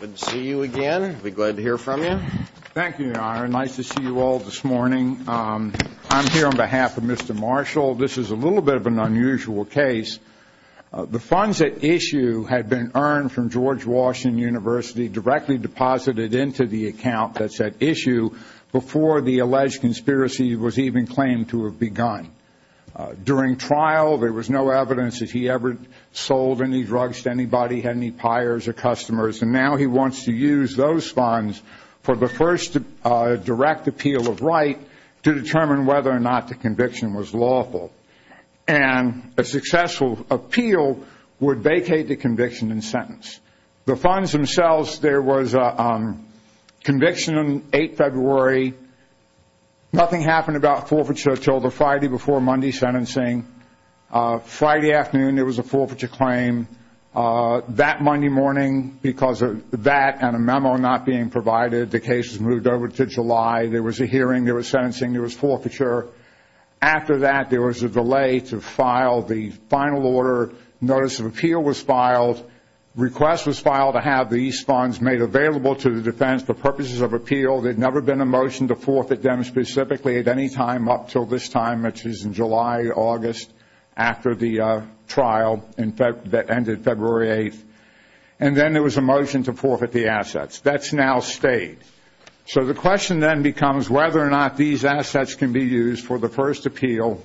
Good to see you again. We're glad to hear from you. Thank you, Your Honor. Nice to see you all this morning. I'm here on behalf of Mr. Marshall. This is a little bit of an unusual case. The funds at issue had been earned from George Washington University directly deposited into the account that's at issue before the alleged conspiracy was even claimed to have begun. During trial, there was no evidence that he ever sold any drugs to anybody, had any buyers or customers, and now he wants to use those funds for the first direct appeal of right to determine whether or not the conviction was lawful. And a successful appeal would vacate the conviction and sentence. The funds themselves, there was a conviction on 8 February. Nothing happened about forfeiture until the Friday before Monday sentencing. Friday afternoon, there was a forfeiture claim. That Monday morning, because of that and a memo not being provided, the case was moved over to July. There was a hearing. There was sentencing. There was forfeiture. After that, there was a delay to file the final order. Notice of appeal was filed. Request was filed to have these funds made available to the defense for purposes of appeal. There had never been a motion to forfeit them specifically at any time up until this time, which is in July, August, after the trial that ended February 8th. And then there was a motion to forfeit the assets. That's now stayed. So the question then becomes whether or not these assets can be used for the first appeal,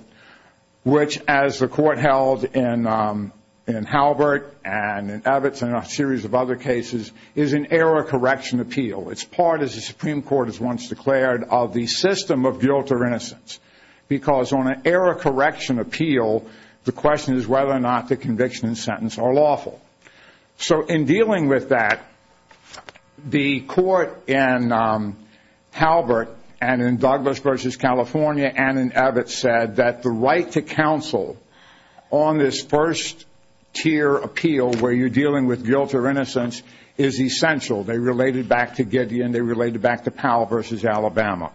which, as the court held in Halbert and in Evitz and a series of other cases, is an error correction appeal. It's part, as the Supreme Court has once declared, of the system of guilt or innocence because on an error correction appeal, the question is whether or not the conviction and sentence are lawful. So in dealing with that, the court in Halbert and in Douglas versus California and in Evitz said that the right to counsel on this first tier appeal where you're dealing with guilt or innocence is essential. They related back to Gideon. They related back to Powell versus Alabama.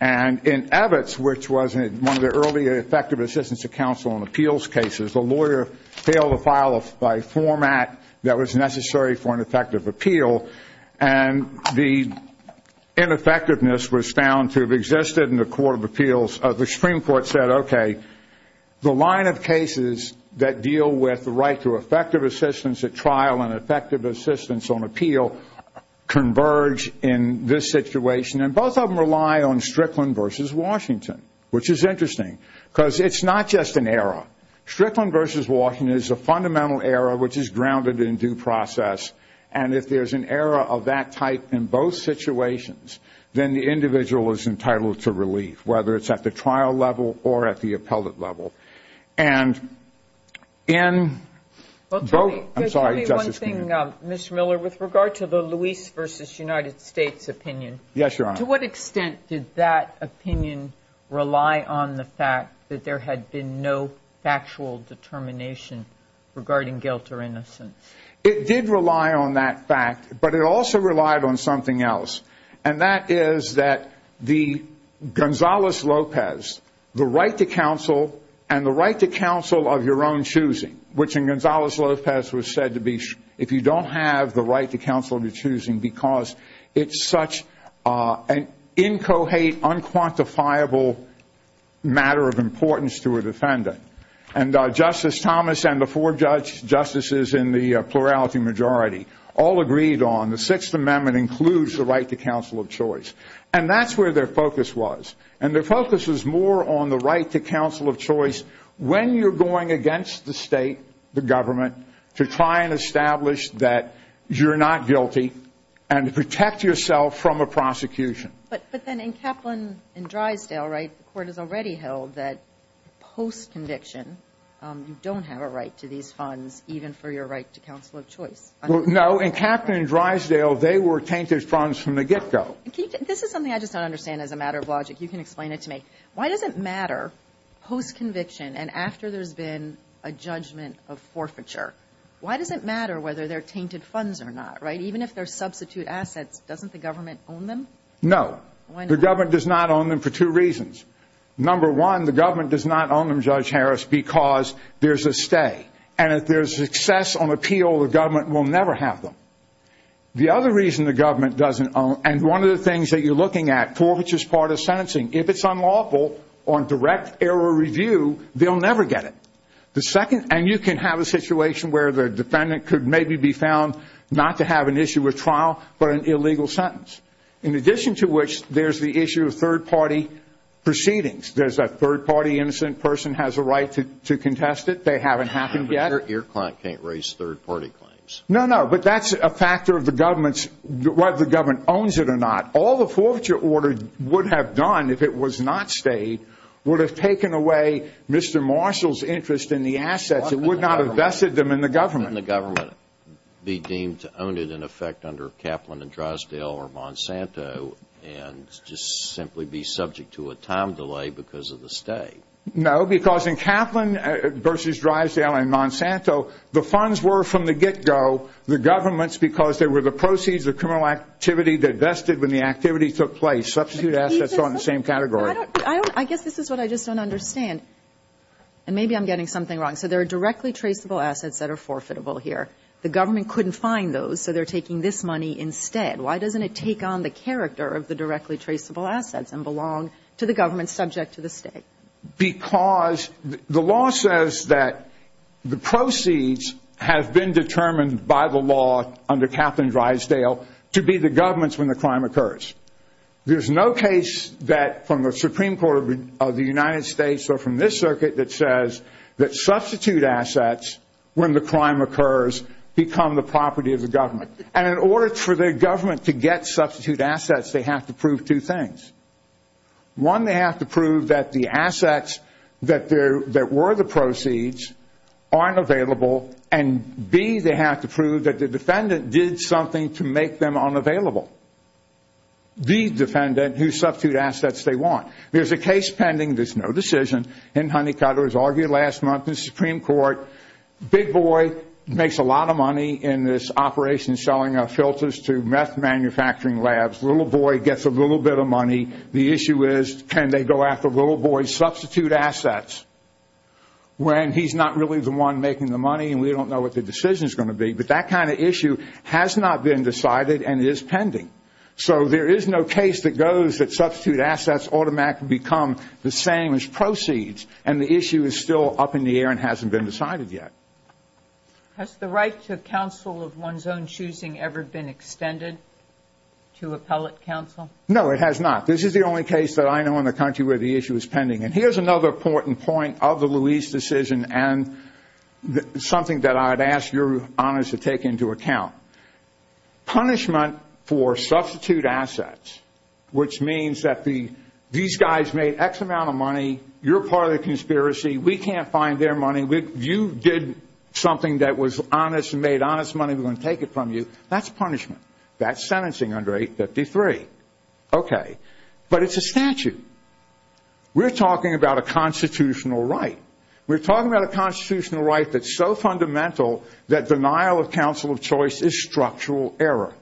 And in Evitz, which was one of the earlier effective assistance to counsel on appeals cases, the lawyer failed to file a format that was necessary for an effective appeal, and the ineffectiveness was found to have existed in the Court of Appeals. The Supreme Court said, okay, the line of cases that deal with the right to effective assistance at trial and effective assistance on appeal converge in this situation, and both of them rely on Strickland versus Washington, which is interesting because it's not just an error. Strickland versus Washington is a fundamental error which is grounded in due process, and if there's an error of that type in both situations, then the individual is entitled to relief, whether it's at the trial level or at the appellate level. And in both ñ I'm sorry, Justice Kennedy. Well, tell me one thing, Mr. Miller, with regard to the Luis versus United States opinion. Yes, Your Honor. To what extent did that opinion rely on the fact that there had been no factual determination regarding guilt or innocence? It did rely on that fact, but it also relied on something else, and that is that the Gonzales-Lopez, the right to counsel and the right to counsel of your own choosing, which in Gonzales-Lopez was said to be if you don't have the right to counsel of your choosing because it's such an incohate, unquantifiable matter of importance to a defendant. And Justice Thomas and the four justices in the plurality majority all agreed on the Sixth Amendment includes the right to counsel of choice, and that's where their focus was. And their focus was more on the right to counsel of choice when you're going against the state, the government, to try and establish that you're not guilty and to protect yourself from a prosecution. But then in Kaplan and Drysdale, right, the court has already held that post-conviction, you don't have a right to these funds, even for your right to counsel of choice. No, in Kaplan and Drysdale, they were tainted funds from the get-go. This is something I just don't understand as a matter of logic. You can explain it to me. Why does it matter post-conviction and after there's been a judgment of forfeiture, why does it matter whether they're tainted funds or not, right? Even if they're substitute assets, doesn't the government own them? No. The government does not own them for two reasons. Number one, the government does not own them, Judge Harris, because there's a stay. And if there's success on appeal, the government will never have them. The other reason the government doesn't own them, and one of the things that you're looking at, forfeiture is part of sentencing. If it's unlawful on direct error review, they'll never get it. And you can have a situation where the defendant could maybe be found not to have an issue with trial but an illegal sentence, in addition to which there's the issue of third-party proceedings. There's a third-party innocent person has a right to contest it. They haven't happened yet. But your client can't raise third-party claims. No, no, but that's a factor of whether the government owns it or not. All the forfeiture order would have done if it was not stayed would have taken away Mr. Marshall's interest in the assets. It would not have vested them in the government. Wouldn't the government be deemed to own it in effect under Kaplan and Drysdale or Monsanto and just simply be subject to a time delay because of the stay? No, because in Kaplan versus Drysdale and Monsanto, the funds were from the get-go, the government's because they were the proceeds of criminal activity that vested when the activity took place. Substitute assets are in the same category. I guess this is what I just don't understand, and maybe I'm getting something wrong. So there are directly traceable assets that are forfeitable here. The government couldn't find those, so they're taking this money instead. Why doesn't it take on the character of the directly traceable assets and belong to the government subject to the stay? Because the law says that the proceeds have been determined by the law under Kaplan and Drysdale to be the government's when the crime occurs. There's no case from the Supreme Court of the United States or from this circuit that says that substitute assets, when the crime occurs, become the property of the government. And in order for the government to get substitute assets, they have to prove two things. One, they have to prove that the assets that were the proceeds aren't available, and B, they have to prove that the defendant did something to make them unavailable. The defendant who substituted assets they want. There's a case pending. There's no decision in Honeycutter. It was argued last month in the Supreme Court. Big Boy makes a lot of money in this operation selling our filters to meth manufacturing labs. Little Boy gets a little bit of money. The issue is can they go after Little Boy's substitute assets when he's not really the one making the money and we don't know what the decision is going to be. But that kind of issue has not been decided and is pending. So there is no case that goes that substitute assets automatically become the same as proceeds, and the issue is still up in the air and hasn't been decided yet. Has the right to counsel of one's own choosing ever been extended to appellate counsel? No, it has not. This is the only case that I know in the country where the issue is pending. And here's another important point of the Luis decision and something that I'd ask your honors to take into account. Punishment for substitute assets, which means that these guys made X amount of money, you're part of the conspiracy, we can't find their money, you did something that was honest and made honest money, we're going to take it from you. That's punishment. That's sentencing under 853. Okay. But it's a statute. We're talking about a constitutional right. We're talking about a constitutional right that's so fundamental that denial of counsel of choice is structural error.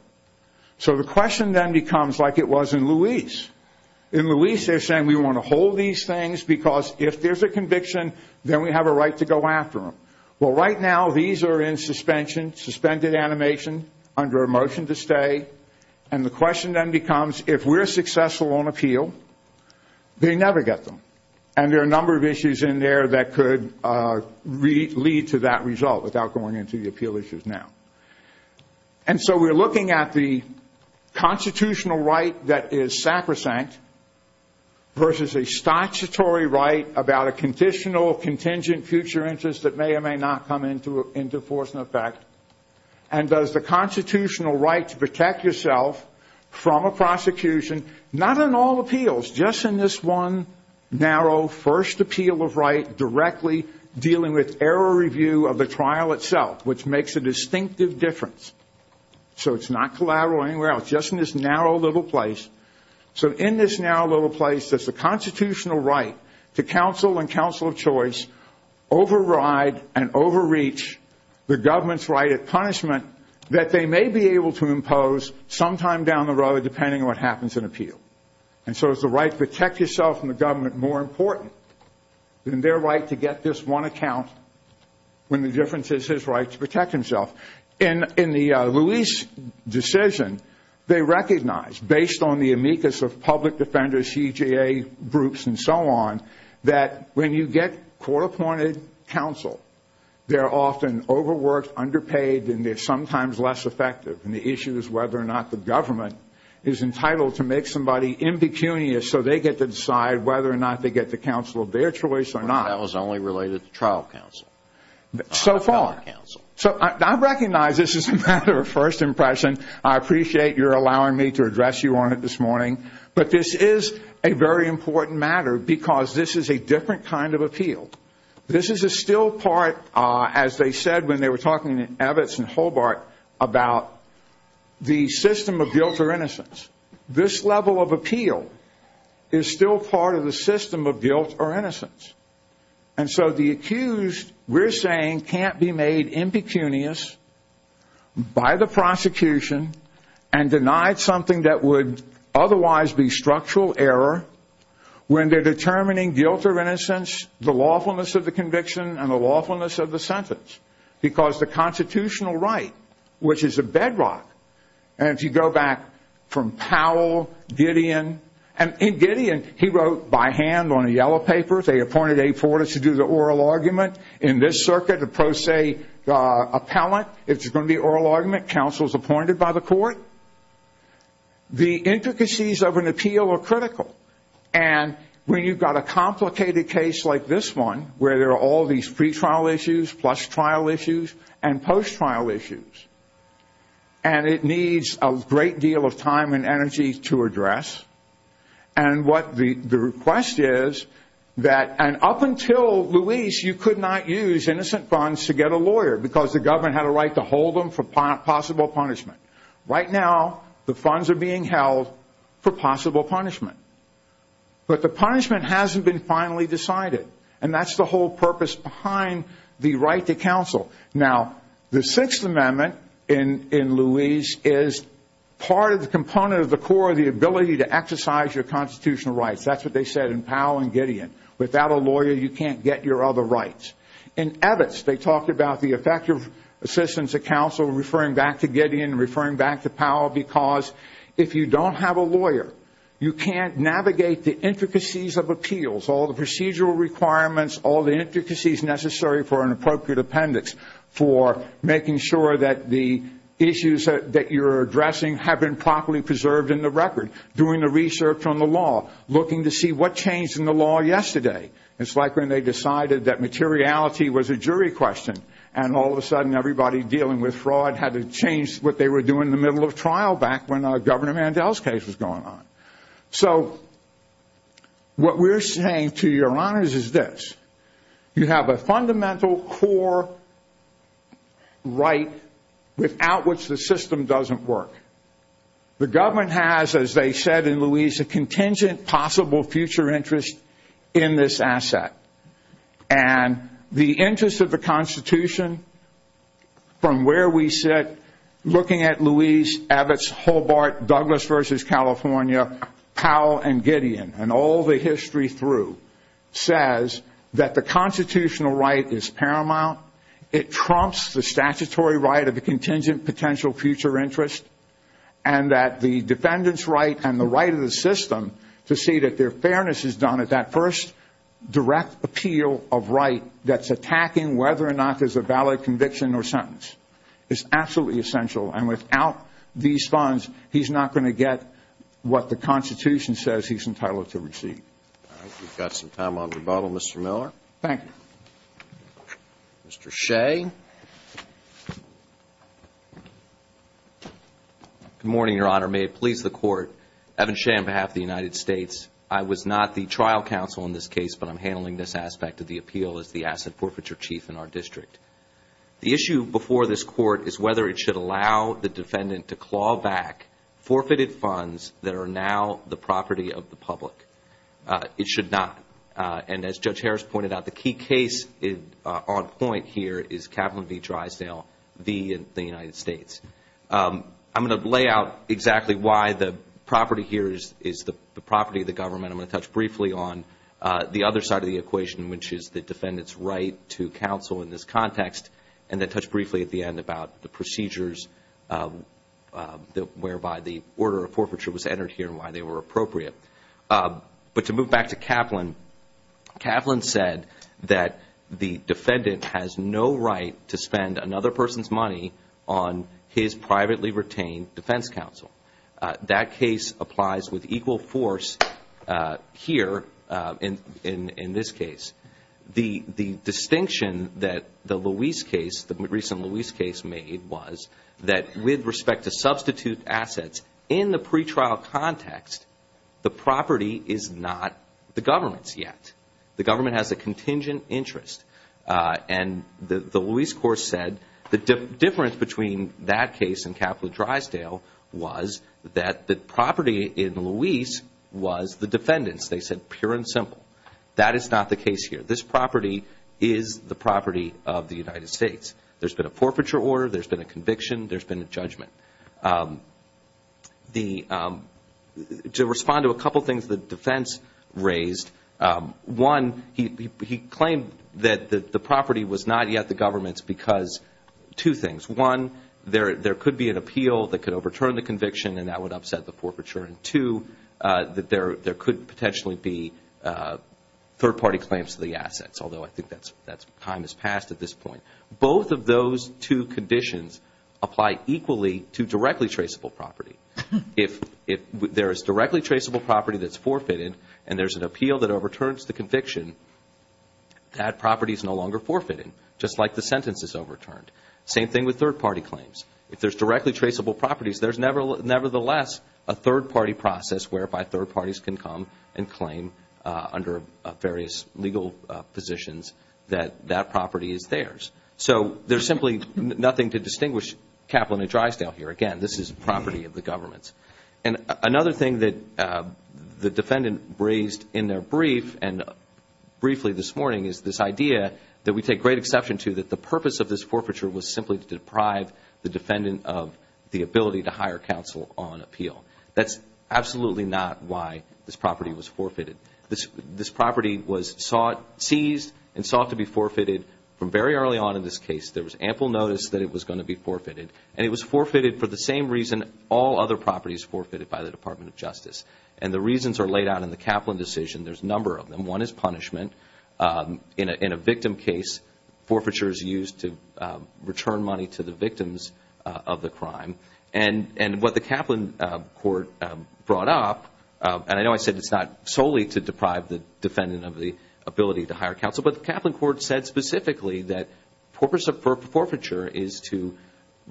So the question then becomes like it was in Luis. In Luis they're saying we want to hold these things because if there's a conviction, then we have a right to go after them. Well, right now these are in suspension, suspended animation, under a motion to stay. And the question then becomes if we're successful on appeal, they never get them. And there are a number of issues in there that could lead to that result without going into the appeal issues now. And so we're looking at the constitutional right that is sacrosanct versus a statutory right about a conditional contingent future interest that may or may not come into force and effect. And does the constitutional right to protect yourself from a prosecution, not in all appeals, just in this one narrow first appeal of right directly, dealing with error review of the trial itself, which makes a distinctive difference. So it's not collateral anywhere else, just in this narrow little place. So in this narrow little place there's a constitutional right to counsel and counsel of choice override and overreach the government's right at punishment that they may be able to impose sometime down the road depending on what happens in appeal. And so is the right to protect yourself from the government more important than their right to get this one account when the difference is his right to protect himself. And in the Lewis decision, they recognized, based on the amicus of public defenders, CJA groups, and so on, that when you get court-appointed counsel, they're often overworked, underpaid, and they're sometimes less effective. And the issue is whether or not the government is entitled to make somebody impecunious so they get to decide whether or not they get the counsel of their choice or not. That was only related to trial counsel. So far. I recognize this is a matter of first impression. I appreciate your allowing me to address you on it this morning. But this is a very important matter because this is a different kind of appeal. This is a still part, as they said when they were talking in Evitz and Hobart, about the system of guilt or innocence. This level of appeal is still part of the system of guilt or innocence. And so the accused, we're saying, can't be made impecunious by the prosecution and denied something that would otherwise be structural error when they're determining guilt or innocence, the lawfulness of the conviction, and the lawfulness of the sentence because the constitutional right, which is a bedrock, and if you go back from Powell, Gideon, and in Gideon, he wrote by hand on a yellow paper, they appointed a forerunner to do the oral argument. In this circuit, the pro se appellant, it's going to be oral argument. Counsel is appointed by the court. The intricacies of an appeal are critical. And when you've got a complicated case like this one, where there are all these pretrial issues plus trial issues and post-trial issues, and it needs a great deal of time and energy to address, and what the request is that, and up until Luis, you could not use innocent funds to get a lawyer because the government had a right to hold them for possible punishment. Right now, the funds are being held for possible punishment. But the punishment hasn't been finally decided, and that's the whole purpose behind the right to counsel. Now, the Sixth Amendment in Luis is part of the component of the core, the ability to exercise your constitutional rights. That's what they said in Powell and Gideon. Without a lawyer, you can't get your other rights. In Evitz, they talked about the effective assistance of counsel, referring back to Gideon, referring back to Powell, because if you don't have a lawyer, you can't navigate the intricacies of appeals, all the procedural requirements, all the intricacies necessary for an appropriate appendix, for making sure that the issues that you're addressing have been properly preserved in the record, doing the research on the law, looking to see what changed in the law yesterday. It's like when they decided that materiality was a jury question, and all of a sudden everybody dealing with fraud had to change what they were doing in the middle of trial back when Governor Mandel's case was going on. So what we're saying to your honors is this. You have a fundamental core right without which the system doesn't work. The government has, as they said in Luis, a contingent possible future interest in this asset. And the interest of the Constitution, from where we sit, looking at Luis, Evitz, Hobart, Douglas v. California, Powell, and Gideon, and all the history through, says that the constitutional right is paramount. It trumps the statutory right of the contingent potential future interest, and that the defendant's right and the right of the system to see that their fairness is done at that first direct appeal of right that's attacking whether or not there's a valid conviction or sentence. It's absolutely essential, and without these funds, he's not going to get what the Constitution says he's entitled to receive. All right. We've got some time on rebuttal. Mr. Miller. Thank you. Mr. Shea. Good morning, Your Honor. May it please the Court. Evan Shea on behalf of the United States. I was not the trial counsel in this case, but I'm handling this aspect of the appeal as the asset forfeiture chief in our district. The issue before this Court is whether it should allow the defendant to claw back forfeited funds that are now the property of the public. It should not, and as Judge Harris pointed out, the key case on point here is Capital V Drysdale v. the United States. I'm going to lay out exactly why the property here is the property of the government. I'm going to touch briefly on the other side of the equation, which is the defendant's right to counsel in this context, and then touch briefly at the end about the procedures whereby the order of forfeiture was entered here and why they were appropriate. But to move back to Kaplan, Kaplan said that the defendant has no right to spend another person's money on his privately retained defense counsel. That case applies with equal force here in this case. The distinction that the Luis case, the recent Luis case made, was that with respect to substitute assets in the pretrial context, the property is not the government's yet. The government has a contingent interest. And the Luis court said the difference between that case and Capital Drysdale was that the property in Luis was the defendant's. They said pure and simple. That is not the case here. This property is the property of the United States. There's been a forfeiture order. There's been a conviction. There's been a judgment. To respond to a couple things the defense raised, one, he claimed that the property was not yet the government's because two things. One, there could be an appeal that could overturn the conviction and that would upset the forfeiture. And two, that there could potentially be third-party claims to the assets, although I think that time has passed at this point. Both of those two conditions apply equally to directly traceable property. If there is directly traceable property that's forfeited and there's an appeal that overturns the conviction, that property is no longer forfeited, just like the sentence is overturned. Same thing with third-party claims. If there's directly traceable properties, there's nevertheless a third-party process whereby third parties can come and claim under various legal positions that that property is theirs. So there's simply nothing to distinguish Capital Drysdale here. Again, this is property of the government. And another thing that the defendant raised in their brief, and briefly this morning, is this idea that we take great exception to that the purpose of this forfeiture was simply to deprive the defendant of the ability to hire counsel on appeal. That's absolutely not why this property was forfeited. This property was seized and sought to be forfeited from very early on in this case. There was ample notice that it was going to be forfeited, and it was forfeited for the same reason all other properties were forfeited by the Department of Justice. And the reasons are laid out in the Kaplan decision. There's a number of them. One is punishment. In a victim case, forfeiture is used to return money to the victims of the crime. And what the Kaplan court brought up, and I know I said it's not solely to deprive the defendant of the ability to hire counsel, but the Kaplan court said specifically that the purpose of forfeiture is to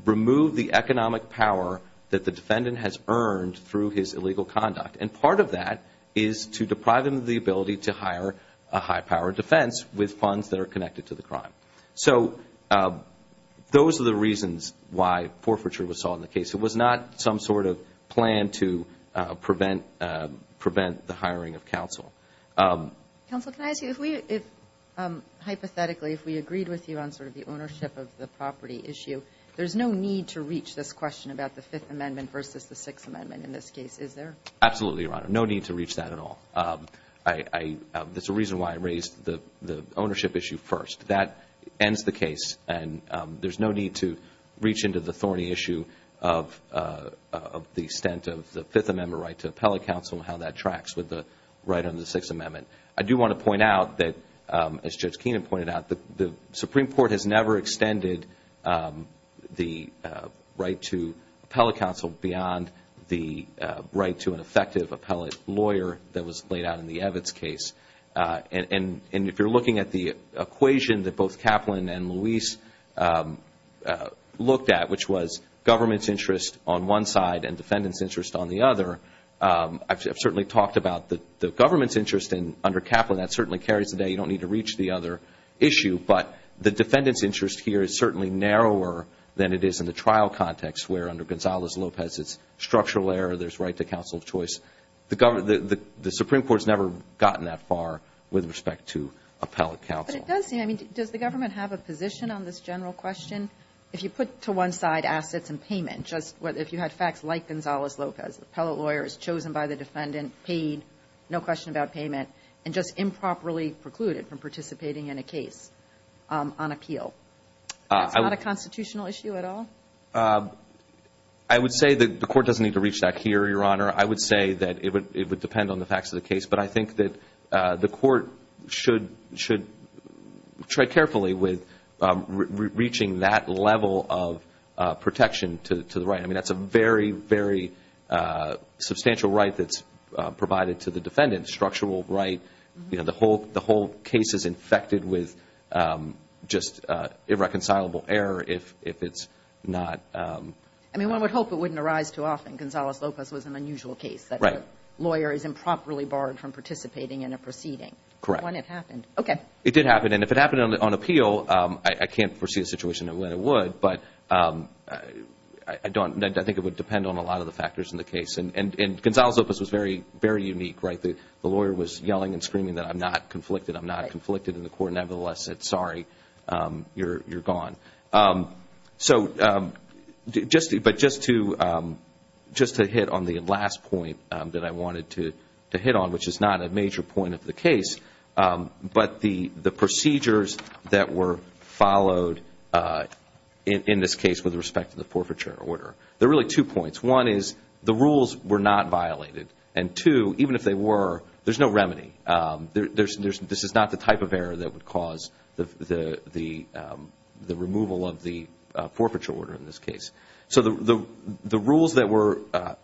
remove the economic power that the defendant has earned through his illegal conduct. And part of that is to deprive him of the ability to hire a high-powered defense with funds that are connected to the crime. So those are the reasons why forfeiture was sought in the case. It was not some sort of plan to prevent the hiring of counsel. Counsel, can I ask you, if we, hypothetically, if we agreed with you on sort of the ownership of the property issue, there's no need to reach this question about the Fifth Amendment versus the Sixth Amendment in this case, is there? Absolutely, Your Honor. No need to reach that at all. There's a reason why I raised the ownership issue first. That ends the case, and there's no need to reach into the thorny issue of the extent of the Fifth Amendment right to appellate counsel and how that tracks with the right under the Sixth Amendment. I do want to point out that, as Judge Keenan pointed out, the Supreme Court has never extended the right to appellate counsel beyond the right to an effective appellate lawyer that was laid out in the Evitz case. And if you're looking at the equation that both Kaplan and Luis looked at, which was government's interest on one side and defendant's interest on the other, I've certainly talked about the government's interest under Kaplan. That certainly carries today. You don't need to reach the other issue, but the defendant's interest here is certainly narrower than it is in the trial context where, under Gonzales-Lopez, it's structural error, there's right to counsel of choice. The Supreme Court has never gotten that far with respect to appellate counsel. But it does seem, I mean, does the government have a position on this general question? If you put to one side assets and payment, if you had facts like Gonzales-Lopez, the appellate lawyer is chosen by the defendant, paid, no question about payment, and just improperly precluded from participating in a case on appeal, that's not a constitutional issue at all? I would say the Court doesn't need to reach that here, Your Honor. I would say that it would depend on the facts of the case. But I think that the Court should tread carefully with reaching that level of protection to the right. I mean, that's a very, very substantial right that's provided to the defendant, structural right. You know, the whole case is infected with just irreconcilable error if it's not. I mean, one would hope it wouldn't arise too often. Gonzales-Lopez was an unusual case that the lawyer is improperly barred from participating in a proceeding. Correct. When it happened. Okay. It did happen. And if it happened on appeal, I can't foresee a situation in which it would, but I think it would depend on a lot of the factors in the case. And Gonzales-Lopez was very, very unique, right? The lawyer was yelling and screaming that I'm not conflicted, I'm not conflicted in the court, and nevertheless said, sorry, you're gone. So just to hit on the last point that I wanted to hit on, which is not a major point of the case, but the procedures that were followed in this case with respect to the forfeiture order. There are really two points. One is the rules were not violated. And two, even if they were, there's no remedy. This is not the type of error that would cause the removal of the forfeiture order in this case. So the rules that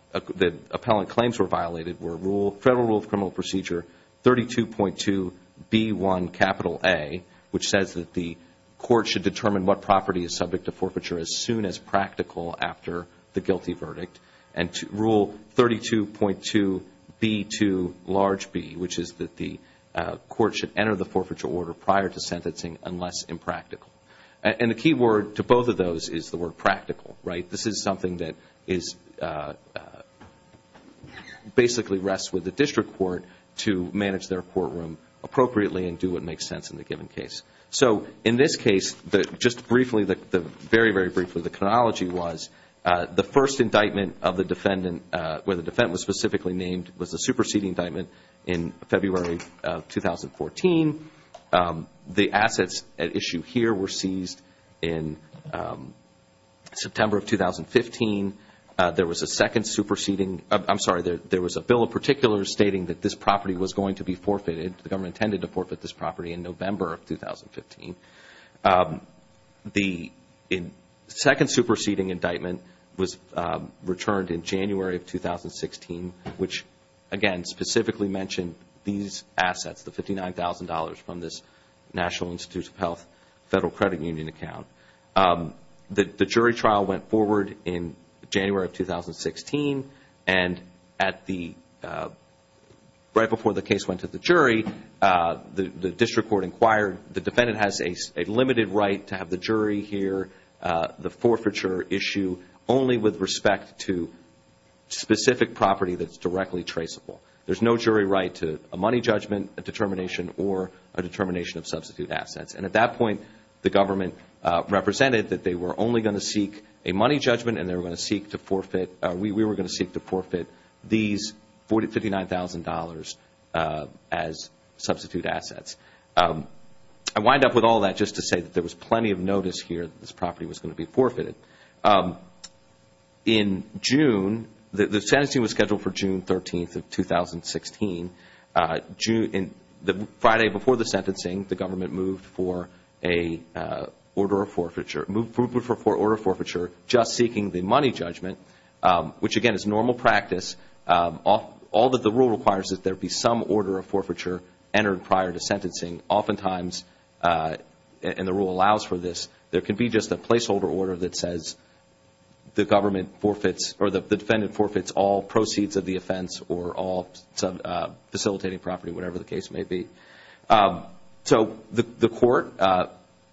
appellant claims were violated were Federal Rule of Criminal Procedure 32.2B1A, which says that the court should determine what property is subject to forfeiture as soon as practical after the guilty verdict. And Rule 32.2B2B, which is that the court should enter the forfeiture order prior to sentencing unless impractical. And the key word to both of those is the word practical, right? This is something that basically rests with the district court to manage their courtroom appropriately and do what makes sense in the given case. So in this case, just briefly, very, very briefly, the chronology was the first indictment of the defendant where the defendant was specifically named was the superseding indictment in February of 2014. The assets at issue here were seized in September of 2015. There was a second superseding. I'm sorry, there was a bill in particular stating that this property was going to be forfeited. The government intended to forfeit this property in November of 2015. The second superseding indictment was returned in January of 2016, which, again, specifically mentioned these assets, the $59,000 from this National Institutes of Health Federal Credit Union account. The jury trial went forward in January of 2016, and right before the case went to the jury, the district court inquired the defendant has a limited right to have the jury hear the forfeiture issue only with respect to specific property that's directly traceable. There's no jury right to a money judgment, a determination, or a determination of substitute assets. And at that point, the government represented that they were only going to seek a money judgment and they were going to seek to forfeit, we were going to seek to forfeit these $59,000 as substitute assets. I wind up with all that just to say that there was plenty of notice here that this property was going to be forfeited. In June, the sentencing was scheduled for June 13th of 2016. Friday before the sentencing, the government moved for an order of forfeiture, just seeking the money judgment, which, again, is normal practice. All that the rule requires is that there be some order of forfeiture entered prior to sentencing. Oftentimes, and the rule allows for this, there can be just a placeholder order that says the government forfeits or the defendant forfeits all proceeds of the offense or all facilitating property, whatever the case may be. So the court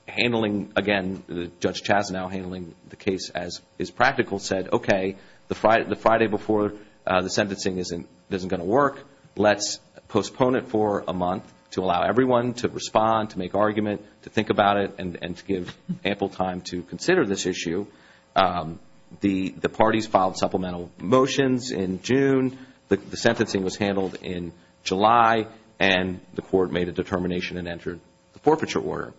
handling, again, Judge Chasnow handling the case as is practical said, okay, the Friday before the sentencing isn't going to work. Let's postpone it for a month to allow everyone to respond, to make argument, to think about it, and to give ample time to consider this issue. The parties filed supplemental motions in June. The sentencing was handled in July, and the court made a determination and entered the forfeiture order.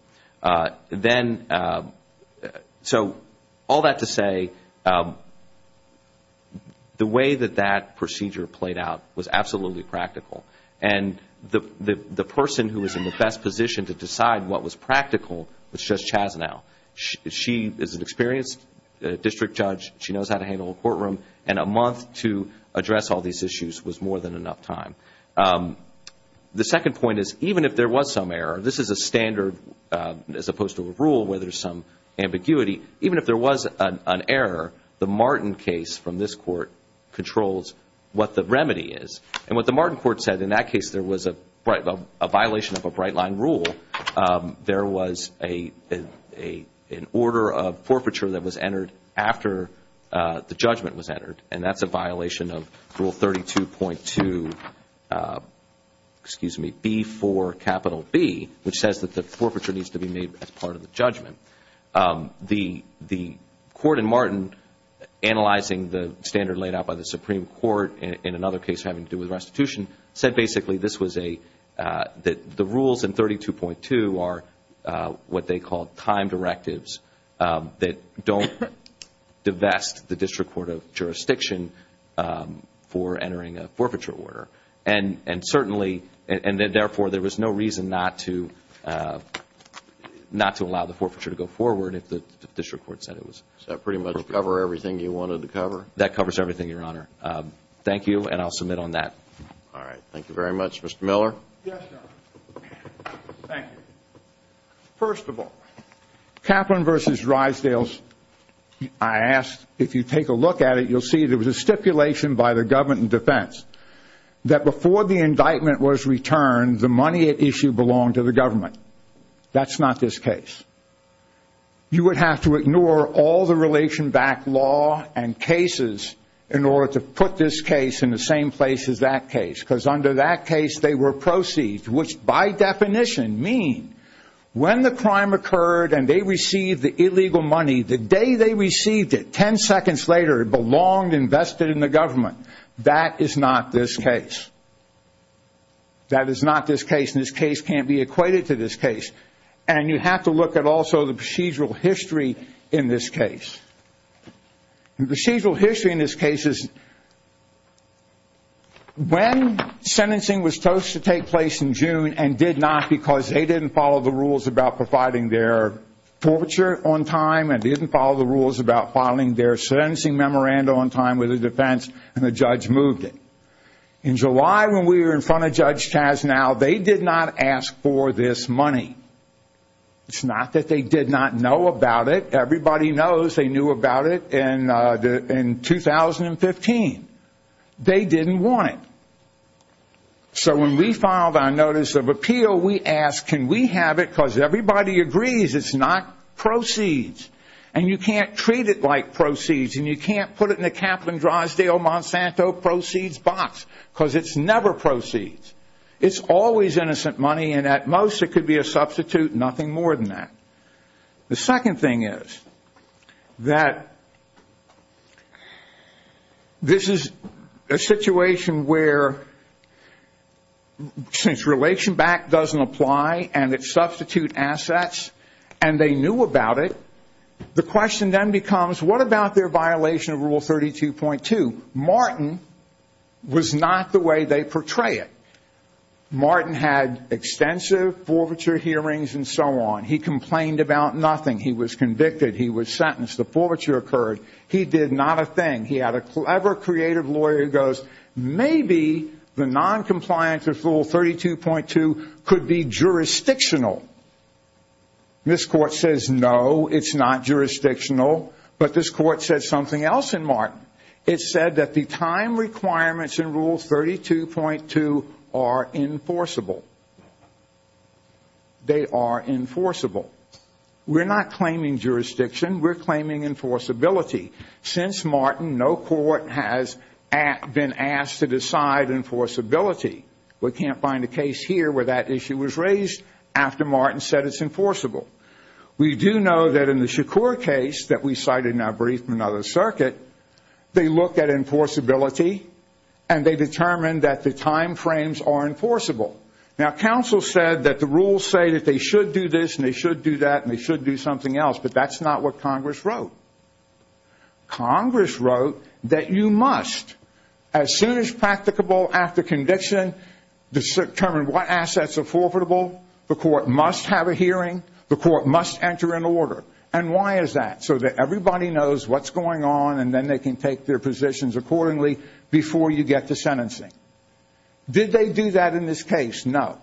So all that to say, the way that that procedure played out was absolutely practical, and the person who was in the best position to decide what was practical was Judge Chasnow. She is an experienced district judge. She knows how to handle a courtroom, and a month to address all these issues was more than enough time. The second point is even if there was some error, this is a standard as opposed to a rule where there's some ambiguity, even if there was an error, the Martin case from this court controls what the remedy is. And what the Martin court said, in that case there was a violation of a bright line rule. There was an order of forfeiture that was entered after the judgment was entered, and that's a violation of Rule 32.2B4B, which says that the forfeiture needs to be made as part of the judgment. The court in Martin, analyzing the standard laid out by the Supreme Court in another case having to do with restitution, said basically this was a – that the rules in 32.2 are what they call time directives that don't divest the District Court of Jurisdiction for entering a forfeiture order. And certainly – and therefore there was no reason not to allow the forfeiture to go forward if the District Court said it was – Does that pretty much cover everything you wanted to cover? That covers everything, Your Honor. Thank you, and I'll submit on that. All right. Thank you very much. Mr. Miller? Yes, Your Honor. Thank you. First of all, Kaplan v. Rysdales, I asked – if you take a look at it, you'll see there was a stipulation by the government in defense that before the indictment was returned, the money at issue belonged to the government. That's not this case. You would have to ignore all the relation-backed law and cases in order to put this case in the same place as that case because under that case they were proceeds, which by definition mean when the crime occurred and they received the illegal money, the day they received it, 10 seconds later it belonged, invested in the government. That is not this case. That is not this case, and this case can't be equated to this case. And you have to look at also the procedural history in this case. The procedural history in this case is when sentencing was supposed to take place in June and did not because they didn't follow the rules about providing their forfeiture on time and didn't follow the rules about filing their sentencing memorandum on time with the defense and the judge moved it. In July, when we were in front of Judge Chaznau, they did not ask for this money. It's not that they did not know about it. Everybody knows they knew about it in 2015. They didn't want it. So when we filed our notice of appeal, we asked can we have it because everybody agrees it's not proceeds and you can't treat it like proceeds and you can't put it in the Kaplan, Drosdale, Monsanto proceeds box because it's never proceeds. It's always innocent money and at most it could be a substitute, nothing more than that. The second thing is that this is a situation where since Relation Back doesn't apply and it's substitute assets and they knew about it, the question then becomes what about their violation of Rule 32.2? Martin was not the way they portray it. Martin had extensive forfeiture hearings and so on. He complained about nothing. He was convicted. He was sentenced. The forfeiture occurred. He did not a thing. He had a clever, creative lawyer who goes maybe the noncompliance of Rule 32.2 could be jurisdictional. This Court says no, it's not jurisdictional, but this Court said something else in Martin. It said that the time requirements in Rule 32.2 are enforceable. They are enforceable. We're not claiming jurisdiction. We're claiming enforceability. Since Martin, no court has been asked to decide enforceability. We can't find a case here where that issue was raised after Martin said it's enforceable. We do know that in the Shakur case that we cited in our brief from another circuit, they looked at enforceability and they determined that the time frames are enforceable. Now, counsel said that the rules say that they should do this and they should do that and they should do something else, but that's not what Congress wrote. Congress wrote that you must, as soon as practicable after conviction, determine what assets are forfeitable. The Court must have a hearing. The Court must enter an order. And why is that? So that everybody knows what's going on and then they can take their positions accordingly before you get to sentencing. Did they do that in this case? No.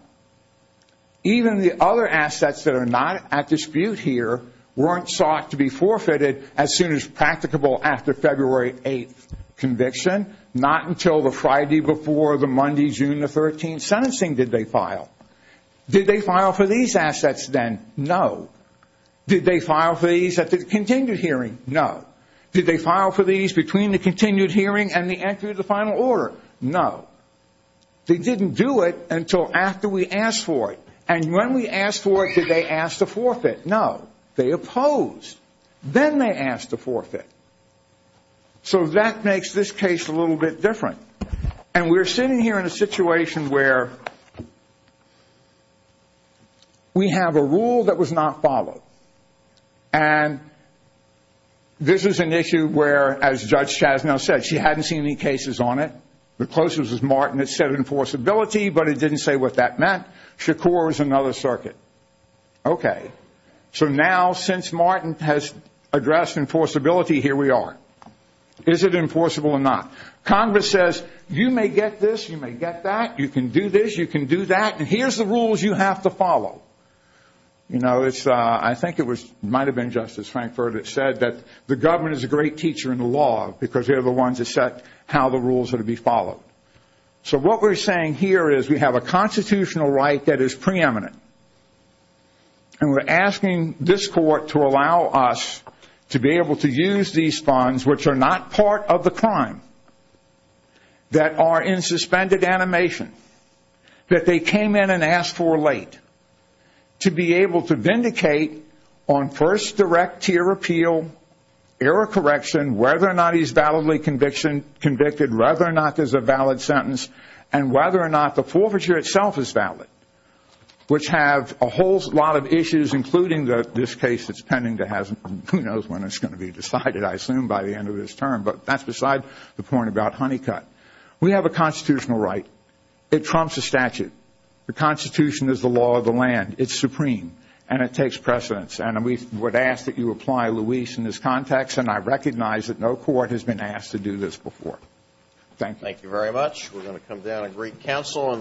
Even the other assets that are not at dispute here weren't sought to be forfeited as soon as practicable after February 8th conviction, not until the Friday before the Monday, June the 13th sentencing did they file. Did they file for these assets then? No. Did they file for these at the continued hearing? No. Did they file for these between the continued hearing and the entry of the final order? No. They didn't do it until after we asked for it. And when we asked for it, did they ask to forfeit? No. They opposed. Then they asked to forfeit. So that makes this case a little bit different. And we're sitting here in a situation where we have a rule that was not followed. And this is an issue where, as Judge Chasnow said, she hadn't seen any cases on it. The closest was Martin that said enforceability, but it didn't say what that meant. Shakur is another circuit. Okay. So now since Martin has addressed enforceability, here we are. Is it enforceable or not? Congress says you may get this, you may get that. You can do this, you can do that. And here's the rules you have to follow. I think it might have been Justice Frankfurter that said that the government is a great teacher in the law because they're the ones that set how the rules are to be followed. So what we're saying here is we have a constitutional right that is preeminent. And we're asking this court to allow us to be able to use these funds, which are not part of the crime, that are in suspended animation, that they came in and asked for late, to be able to vindicate on first direct tier appeal, error correction, whether or not he's validly convicted, whether or not there's a valid sentence, and whether or not the forfeiture itself is valid, which have a whole lot of issues, including this case that's pending to have, who knows when it's going to be decided, I assume by the end of this term. But that's beside the point about Honeycutt. We have a constitutional right. It trumps a statute. The Constitution is the law of the land. It's supreme. And it takes precedence. And we would ask that you apply, Luis, in this context. And I recognize that no court has been asked to do this before. Thank you. Thank you very much. We're going to come down and greet counsel.